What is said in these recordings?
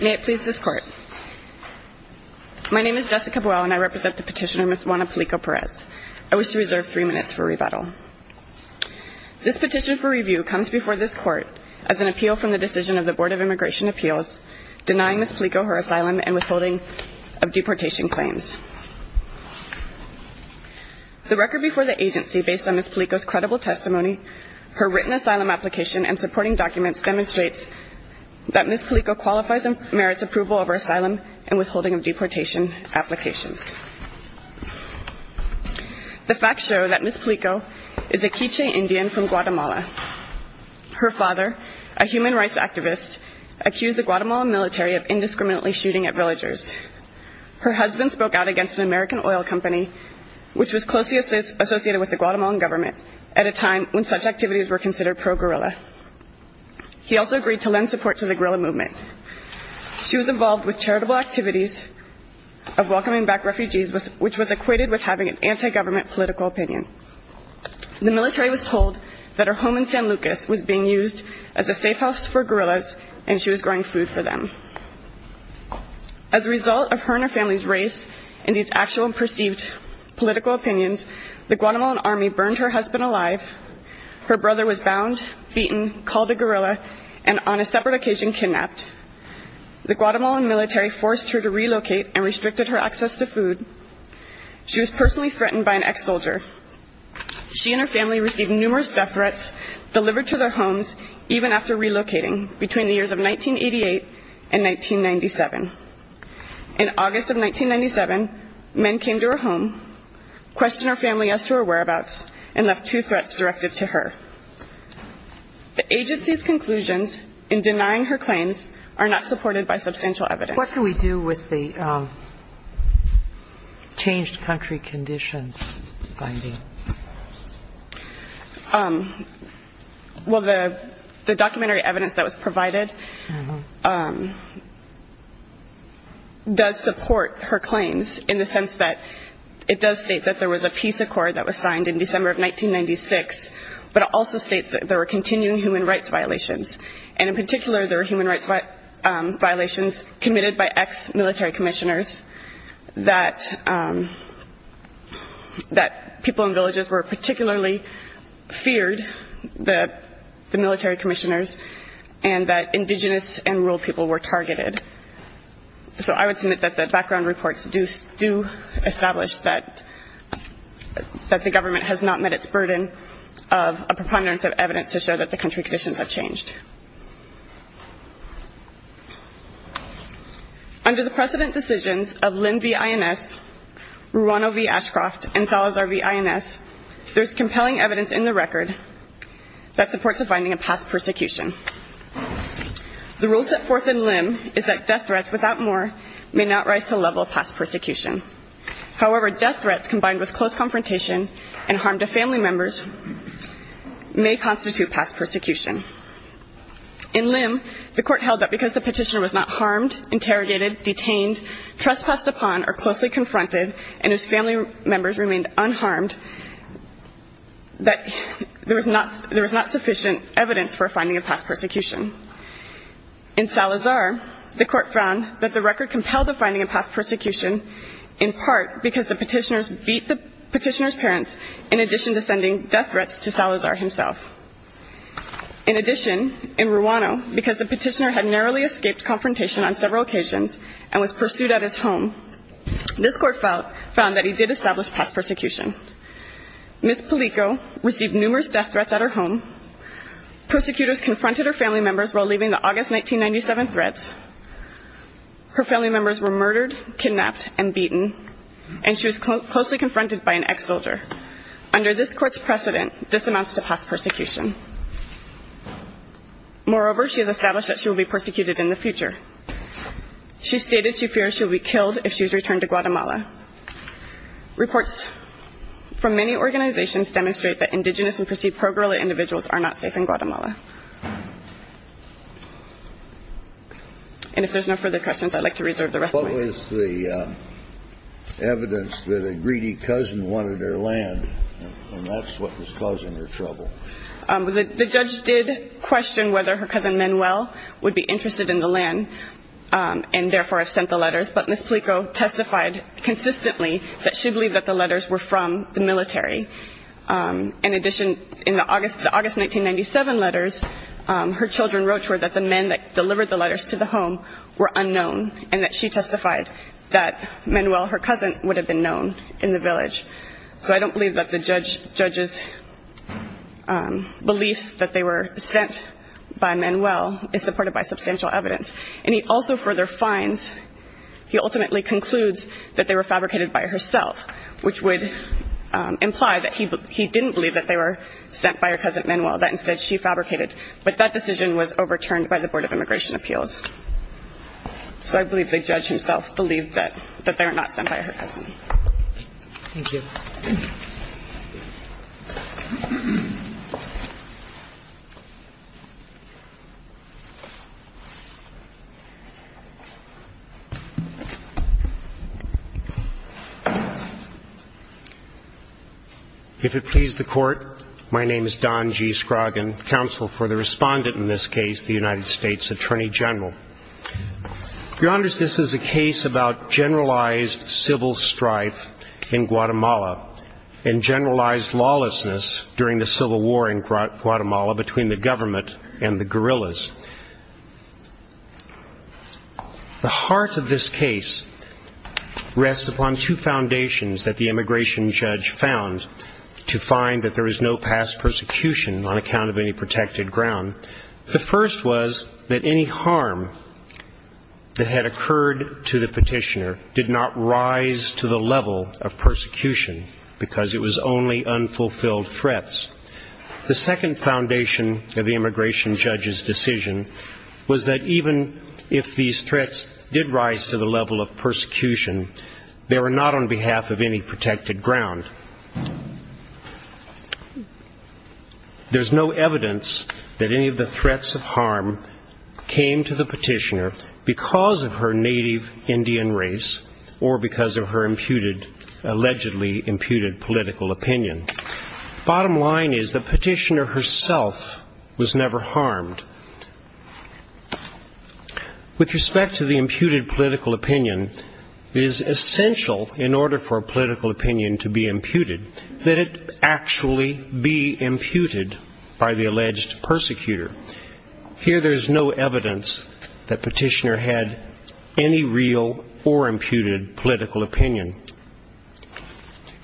May it please this Court, My name is Jessica Buell and I represent the petitioner Ms. Juana Pelico-Perez. I wish to reserve three minutes for rebuttal. This petition for review comes before this Court as an appeal from the decision of the Board of Immigration Appeals denying Ms. Pelico her asylum and withholding of deportation claims. The record before the agency, based on Ms. Pelico's credible testimony, her written asylum application and supporting documents demonstrates that Ms. Pelico qualifies and merits approval of her asylum and withholding of deportation applications. The facts show that Ms. Pelico is a K'iche' Indian from Guatemala. Her father, a human rights activist, accused the Guatemalan military of indiscriminately shooting at villagers. Her husband spoke out against an American oil company which was closely associated with the Guatemalan government at a time when such activities were considered pro-guerrilla. He also agreed to lend support to the guerrilla movement. She was involved with charitable activities of welcoming back refugees which was equated with having an anti-government political opinion. The military was told that her home in San Lucas was being used as a safe house for guerrillas and she was growing food for them. As a result of deportations, the Guatemalan army burned her husband alive, her brother was bound, beaten, called a guerrilla, and on a separate occasion kidnapped. The Guatemalan military forced her to relocate and restricted her access to food. She was personally threatened by an ex-soldier. She and her family received numerous death threats delivered to their homes even after relocating between the years of 1988 and 1997. In August of 1997, men came to her home, questioned her family as to her whereabouts, and left two threats directed to her. The agency's conclusions in denying her claims are not supported by substantial evidence. What do we do with the changed country conditions finding? Well, the documentary evidence that was provided does support her claims in the sense that it does state that there was a peace accord that was signed in December of 1996, but also states that there were continuing human rights violations. And in particular, there were human rights violations committed by ex-military commissioners, that people in villages were particularly feared, the military commissioners, and that indigenous and rural people were targeted. So I would submit that the background reports do establish that the government has not met its burden of a preponderance of evidence to show that the country conditions have changed. Under the precedent decisions of Lynn v. INS, Ruano v. Ashcroft, and Salazar v. INS, there's compelling evidence in the record that supports the finding of past persecution. The rule set forth in Lynn is that death threats, without more, may not rise to the level of past persecution. However, death threats combined with close confrontation and harm to family members may constitute past persecution. In Lynn, the court held that because the petitioner was not harmed, interrogated, detained, trespassed upon, or closely confronted, and his family members remained unharmed, that there was not sufficient evidence for finding a past persecution. In Salazar, the court found that the record compelled the finding of past persecution, in part because the petitioners beat the petitioner's parents, in addition to sending death threats to Salazar himself. In addition, in Ruano, because the petitioner had narrowly escaped confrontation on several occasions and was pursued at his home, this court found that he did establish past persecution. Ms. Palico received numerous death threats at her home. Persecutors confronted her family members while leaving the August 1997 threats. Her family members were murdered, kidnapped, and beaten, and she was closely confronted by an ex-soldier. Under this court's precedent, this amounts to past persecution. Moreover, she has established that she will be persecuted in the future. She stated she fears she will be killed if she is returned to Guatemala. Reports from many organizations demonstrate that indigenous and perceived pro-Guerrilla individuals are not safe in Guatemala. And if there's no further questions, I'd like to reserve the rest of my time. The evidence that a greedy cousin wanted her land, and that's what was causing her trouble. The judge did question whether her cousin Manuel would be interested in the land and therefore have sent the letters, but Ms. Palico testified consistently that she believed that the letters were from the military. In addition, in the August 1997 letters, her children wrote to her that the men that delivered the letters to the home were unknown and that she testified that Manuel, her cousin, would have been known in the village. So I don't believe that the judge's belief that they were sent by Manuel is supported by substantial evidence. And he also further finds, he ultimately concludes that they were fabricated by herself, which would imply that he didn't believe that they were sent by her cousin Manuel, that instead she fabricated. But that decision was overturned by the Board of Immigration Appeals. So I believe that they were not sent by her cousin. Thank you. If it please the Court, my name is Don G. Scroggin, counsel for the respondent in this case about generalized civil strife in Guatemala and generalized lawlessness during the civil war in Guatemala between the government and the guerrillas. The heart of this case rests upon two foundations that the immigration judge found to find that there is no past persecution on account of any protected ground. The first was that any harm that had occurred to the petitioner did not rise to the level of persecution because it was only unfulfilled threats. The second foundation of the immigration judge's decision was that even if these threats did rise to the level of persecution, they were not on behalf of any protected ground. There's no evidence that any of the threats of harm came to the petitioner because of her native Indian race or because of her imputed, allegedly imputed political opinion. Bottom line is the petitioner herself was never harmed. With respect to the imputed political opinion, it is essential in order for a political opinion to be imputed that it actually be imputed by the alleged persecutor. Here there's no evidence that petitioner had any real or imputed political opinion.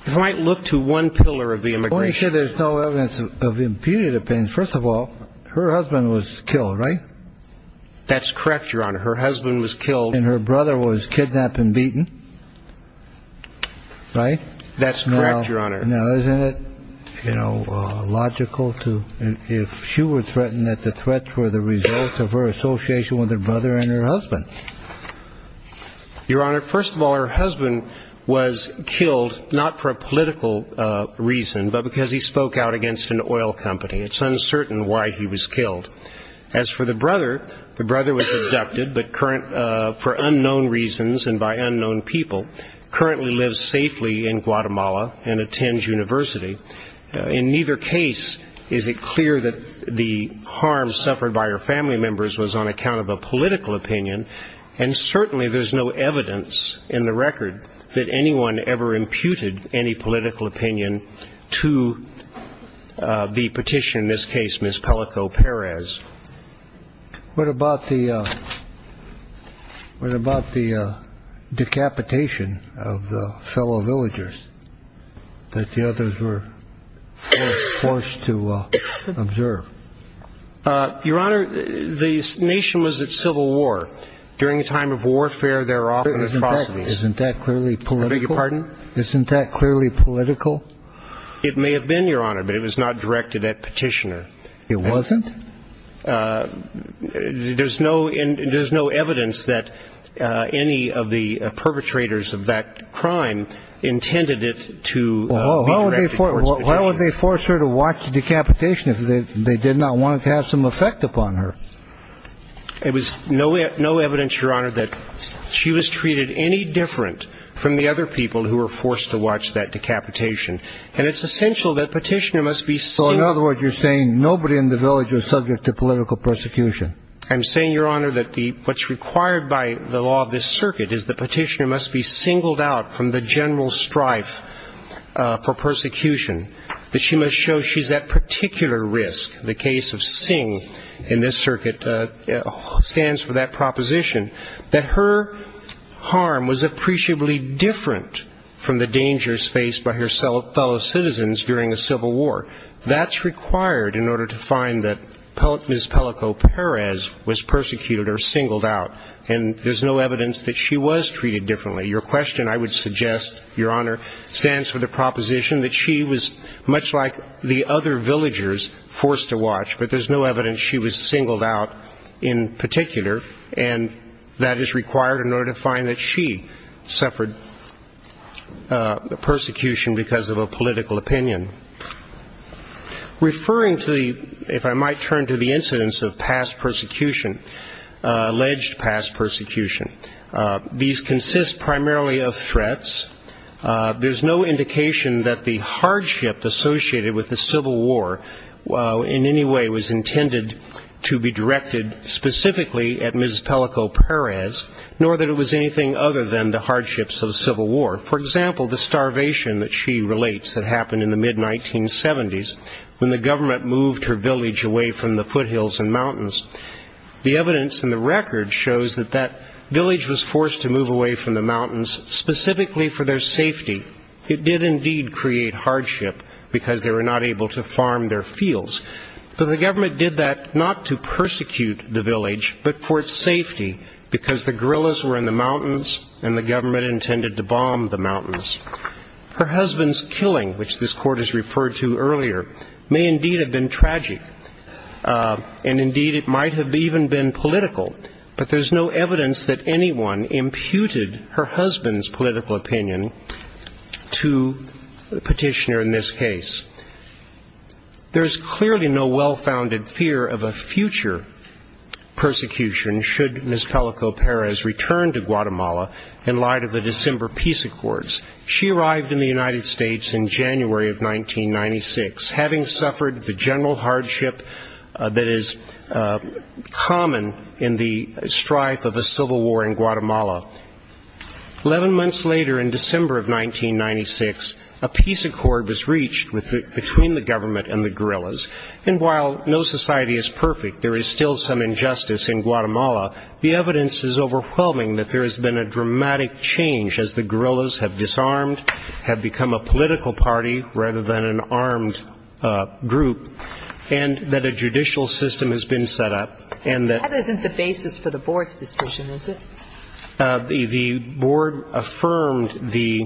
If I might look to one pillar of the immigration judge's decision, there's no evidence of imputed opinion. First of all, her husband was killed, right? That's correct, Your Honor. Her husband was killed and her brother was kidnapped and beaten, right? That's correct, Your Honor. Now isn't it, you know, logical if she were threatened that the threats were the result of her association with her brother and her husband? Your Honor, first of all, her husband was killed not for a political reason but because he spoke out against an oil company. It's uncertain why he was killed. As for the brother, the brother was abducted but for unknown reasons and by necessity. In neither case is it clear that the harm suffered by her family members was on account of a political opinion. And certainly there's no evidence in the record that anyone ever imputed any political opinion to the petitioner, in this case, Ms. Pelico Perez. What about the decapitation of the fellow villagers that the others were, you know, were forced to observe? Your Honor, the nation was at civil war. During a time of warfare there were often atrocities. Isn't that clearly political? I beg your pardon? Isn't that clearly political? It may have been, Your Honor, but it was not directed at petitioner. It wasn't? There's no evidence that any of the perpetrators of that crime intended it to be directed at the petitioner. Why would they force her to watch the decapitation if they did not want it to have some effect upon her? There was no evidence, Your Honor, that she was treated any different from the other people who were forced to watch that decapitation. And it's essential that petitioner must be single. So in other words, you're saying nobody in the village was subject to political persecution? I'm saying, Your Honor, that what's required by the law of this circuit is the petitioner must be singled out from the general strife for persecution, that she must show she's at particular risk. The case of Singh in this circuit stands for that proposition, that her harm was appreciably different from the dangers faced by her fellow citizens during a civil war. That's required in order to find that Ms. Pelico Perez was persecuted or singled out. And there's no evidence that she was singled out. It stands for the proposition that she was much like the other villagers forced to watch, but there's no evidence she was singled out in particular. And that is required in order to find that she suffered persecution because of a political opinion. Referring to the, if I might turn to the incidents of past persecution, alleged past persecution, these consist primarily of threats. There's no indication that the hardship associated with the Civil War in any way was intended to be directed specifically at Ms. Pelico Perez, nor that it was anything other than the hardships of the Civil War. For example, the starvation that she relates that happened in the mid-1970s when the government moved her village away from the foothills and mountains. The evidence in the record shows that that village was forced to move away from the mountains specifically for their safety. It did indeed create hardship because they were not able to farm their fields. So the government did that not to persecute the village, but for its safety because the guerrillas were in the mountains and the government intended to bomb the mountains. Her husband's killing, which this court has referred to earlier, may indeed have been tragic. And indeed it might have even been political. But there's no evidence that anyone imputed her husband's political opinion to the petitioner in this case. There's clearly no well-founded fear of a future persecution should Ms. Pelico Perez return to Guatemala in light of the December peace accords. She arrived in the United States in January of 1996. Having suffered the general hardship that is common in the strife of a civil war in Guatemala, 11 months later in December of 1996, a peace accord was reached between the government and the guerrillas. And while no society is perfect, there is still some injustice in Guatemala. The evidence is overwhelming that there has been a dramatic change as the guerrillas have been in the group and that a judicial system has been set up and that the board affirmed the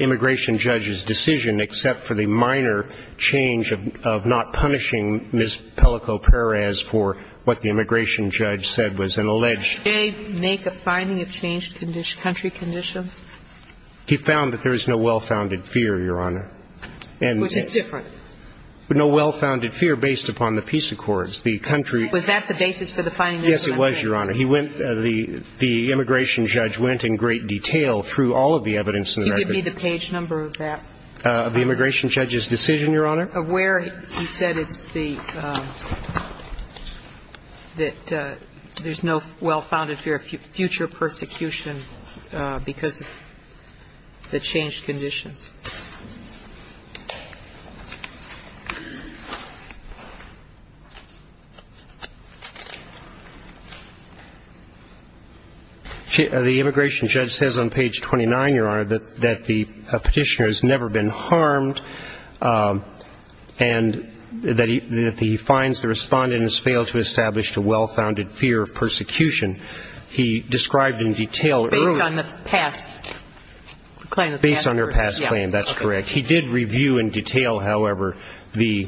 immigration judge's decision, except for the minor change of not punishing Ms. Pelico Perez for what the immigration judge said was an alleged they make a finding of changed country conditions. He found that there is no well-founded fear, Your Honor, which is different. No well-founded fear based upon the peace accords. The country Was that the basis for the finding? Yes, it was, Your Honor. He went, the immigration judge went in great detail through all of the evidence in the record. Can you give me the page number of that? Of the immigration judge's decision, Your Honor? Of where he said it's the, that there's no well-founded fear of future persecution because of the changed conditions. The immigration judge says on page 29, Your Honor, that the petitioner has never been harmed, and that he finds the respondent has failed to establish a well-founded fear of persecution. He described in detail earlier. Based on the past claim, that's correct. He did review in detail, however, the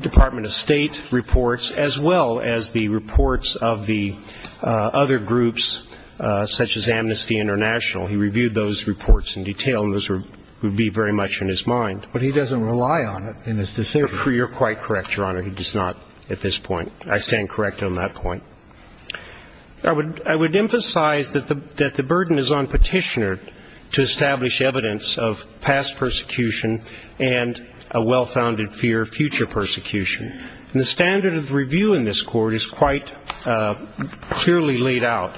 Department of State reports, as well as the reports of the other groups such as Amnesty International. He reviewed those reports in detail, and those would be very much in his mind. But he doesn't rely on it in his decision. You're quite correct, Your Honor. He does not at this point. I stand correct on that point. I would emphasize that the burden is on petitioner to establish evidence of past persecution and a well-founded fear of future persecution. And the standard of review in this Court is quite clearly laid out.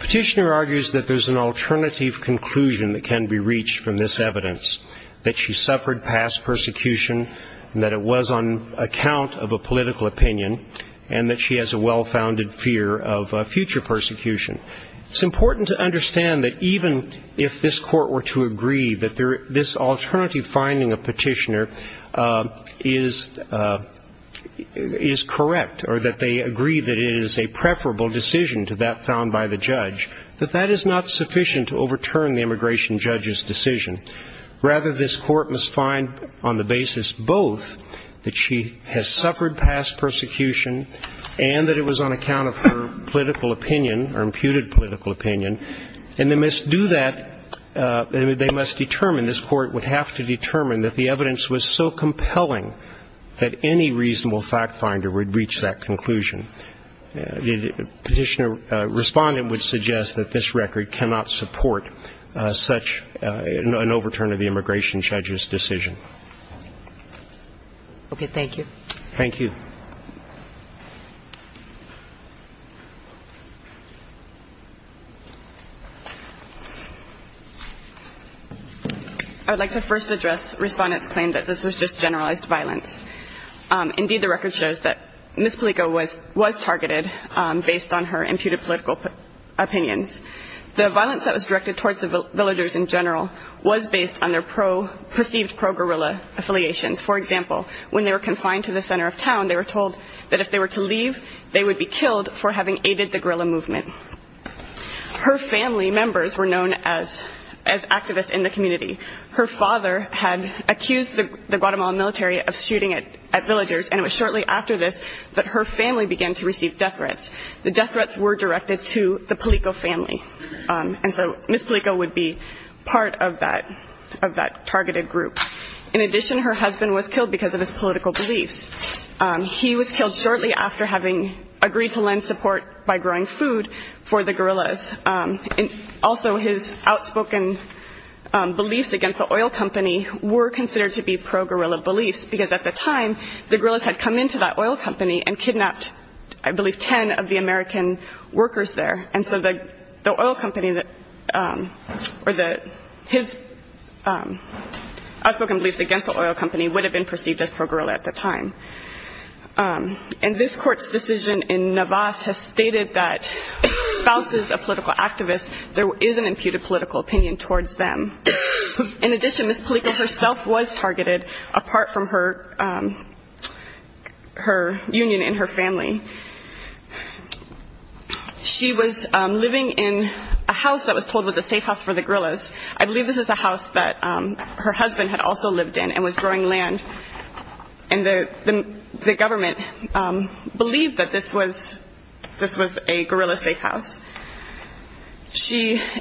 Petitioner argues that there's an alternative conclusion that can be reached from this evidence, that she suffered past persecution, and that it was on account of a political opinion, and that she has a well-founded fear of future persecution. It's important to understand that even if this Court were to agree that this alternative finding of petitioner is correct, or that they agree that it is a preferable decision to that found by the judge, that that is not sufficient to overturn the immigration judge's decision. Rather, this Court must find on the basis both that she has suffered past persecution and that it was on account of her political opinion, her imputed political opinion, and they must do that, they must determine, this Court would have to determine that the evidence was so compelling that any reasonable fact finder would reach that conclusion. Petitioner, Respondent would suggest that this record cannot support such an overturn of the immigration judge's decision. Thank you. I'd like to first address Respondent's claim that this was just generalized violence. Indeed, the violence was targeted based on her imputed political opinions. The violence that was directed towards the villagers in general was based on their perceived pro-guerrilla affiliations. For example, when they were confined to the center of town, they were told that if they were to leave, they would be killed for having aided the guerrilla movement. Her family members were known as activists in the community. Her father had accused the Guatemala military of shooting at villagers, and it was shortly after this that her family began to receive death threats. The death threats were directed to the Palico family. And so Ms. Palico would be part of that targeted group. In addition, her husband was killed because of his political beliefs. He was killed shortly after having agreed to lend support by growing food for the guerrillas. Also, his outspoken beliefs against the oil company were considered to be pro-guerrilla beliefs, because at the time, the guerrillas had come into that oil company and kidnapped, I believe, 10 of the American workers there. And so the oil company that or his outspoken beliefs against the oil company would have been perceived as pro-guerrilla at the time. And this Court's decision in Navas has stated that spouses of political activists, there is an imputed political opinion towards them. In addition, Ms. Palico herself was targeted, apart from her union and her family. She was living in a house that was told was a safe house for the guerrillas. I believe this is a house that her husband had also lived in and was growing land, and the government believed that this was a guerrilla safe house.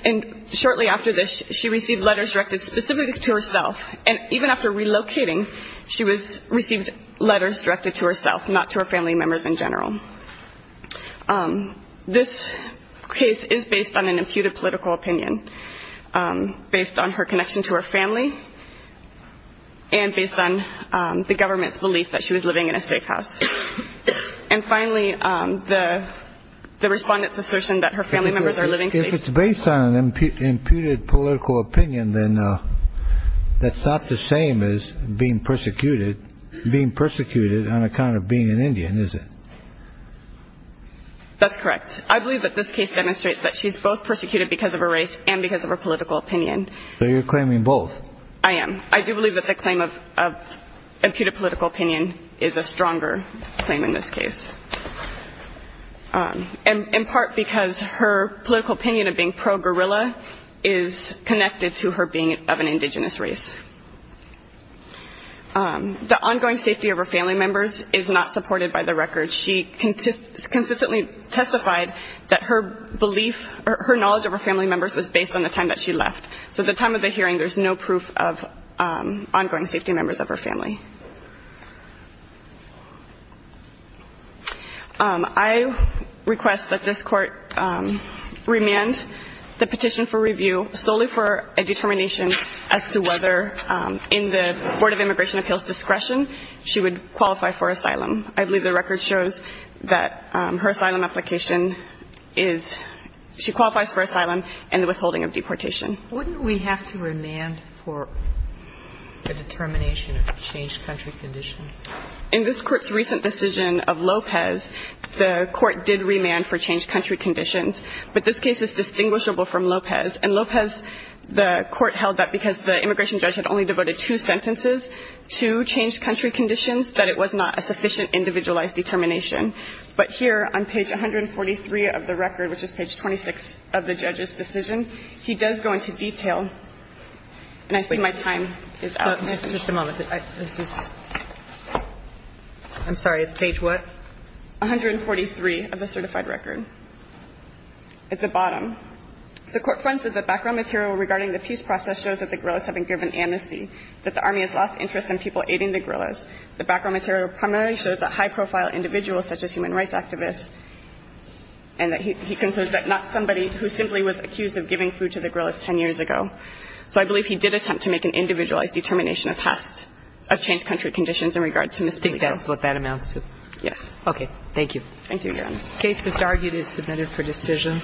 And shortly after this, she received letters directed specifically to herself, and even after relocating, she received letters directed to herself, not to her family members in general. This case is based on an imputed political opinion, based on her connection to her family, and based on the government's belief that she was living in a safe house. And finally, the Respondent's assertion that her family members are living safe. If it's based on an imputed political opinion, then that's not the same as being persecuted. It's not the same as being persecuted on account of being an Indian, is it? That's correct. I believe that this case demonstrates that she's both persecuted because of her race and because of her political opinion. So you're claiming both? I am. I do believe that the claim of imputed political opinion is a stronger claim in this case. In part because her political opinion is a stronger claim in this case. The ongoing safety of her family members is not supported by the record. She consistently testified that her belief, her knowledge of her family members was based on the time that she left. So at the time of the hearing, there's no proof of ongoing safety of members of her family. I request that this Court remand the petition for review solely for a determination as to whether, in the Board of Immigration Appeals' discretion, she would qualify for asylum. I believe the record shows that her asylum application is, she qualifies for asylum and the withholding of deportation. Wouldn't we have to remand for a determination of change? In this Court's recent decision of Lopez, the Court did remand for change country conditions. But this case is distinguishable from Lopez. And Lopez, the Court held that because the immigration judge had only devoted two sentences to change country conditions, that it was not a sufficient individualized determination. But here on page 143 of the record, which is page 26 of the judge's decision, he does go into detail. And I see my time is out. Just a moment. I'm sorry. It's page what? 143 of the certified record. At the bottom. The Court finds that the background material regarding the peace process shows that the guerrillas have been given amnesty, that the Army has lost interest in people aiding the guerrillas. The background material primarily shows that high-profile individuals such as human rights activists, and that he concludes that not somebody who simply was accused of giving food to the guerrillas 10 years ago. So I believe he did attempt to make an individualized determination of past of change country conditions in regard to Ms. Figo. I think that's what that amounts to. Yes. Okay. Thank you. Thank you, Your Honor. The case just argued is submitted for decision.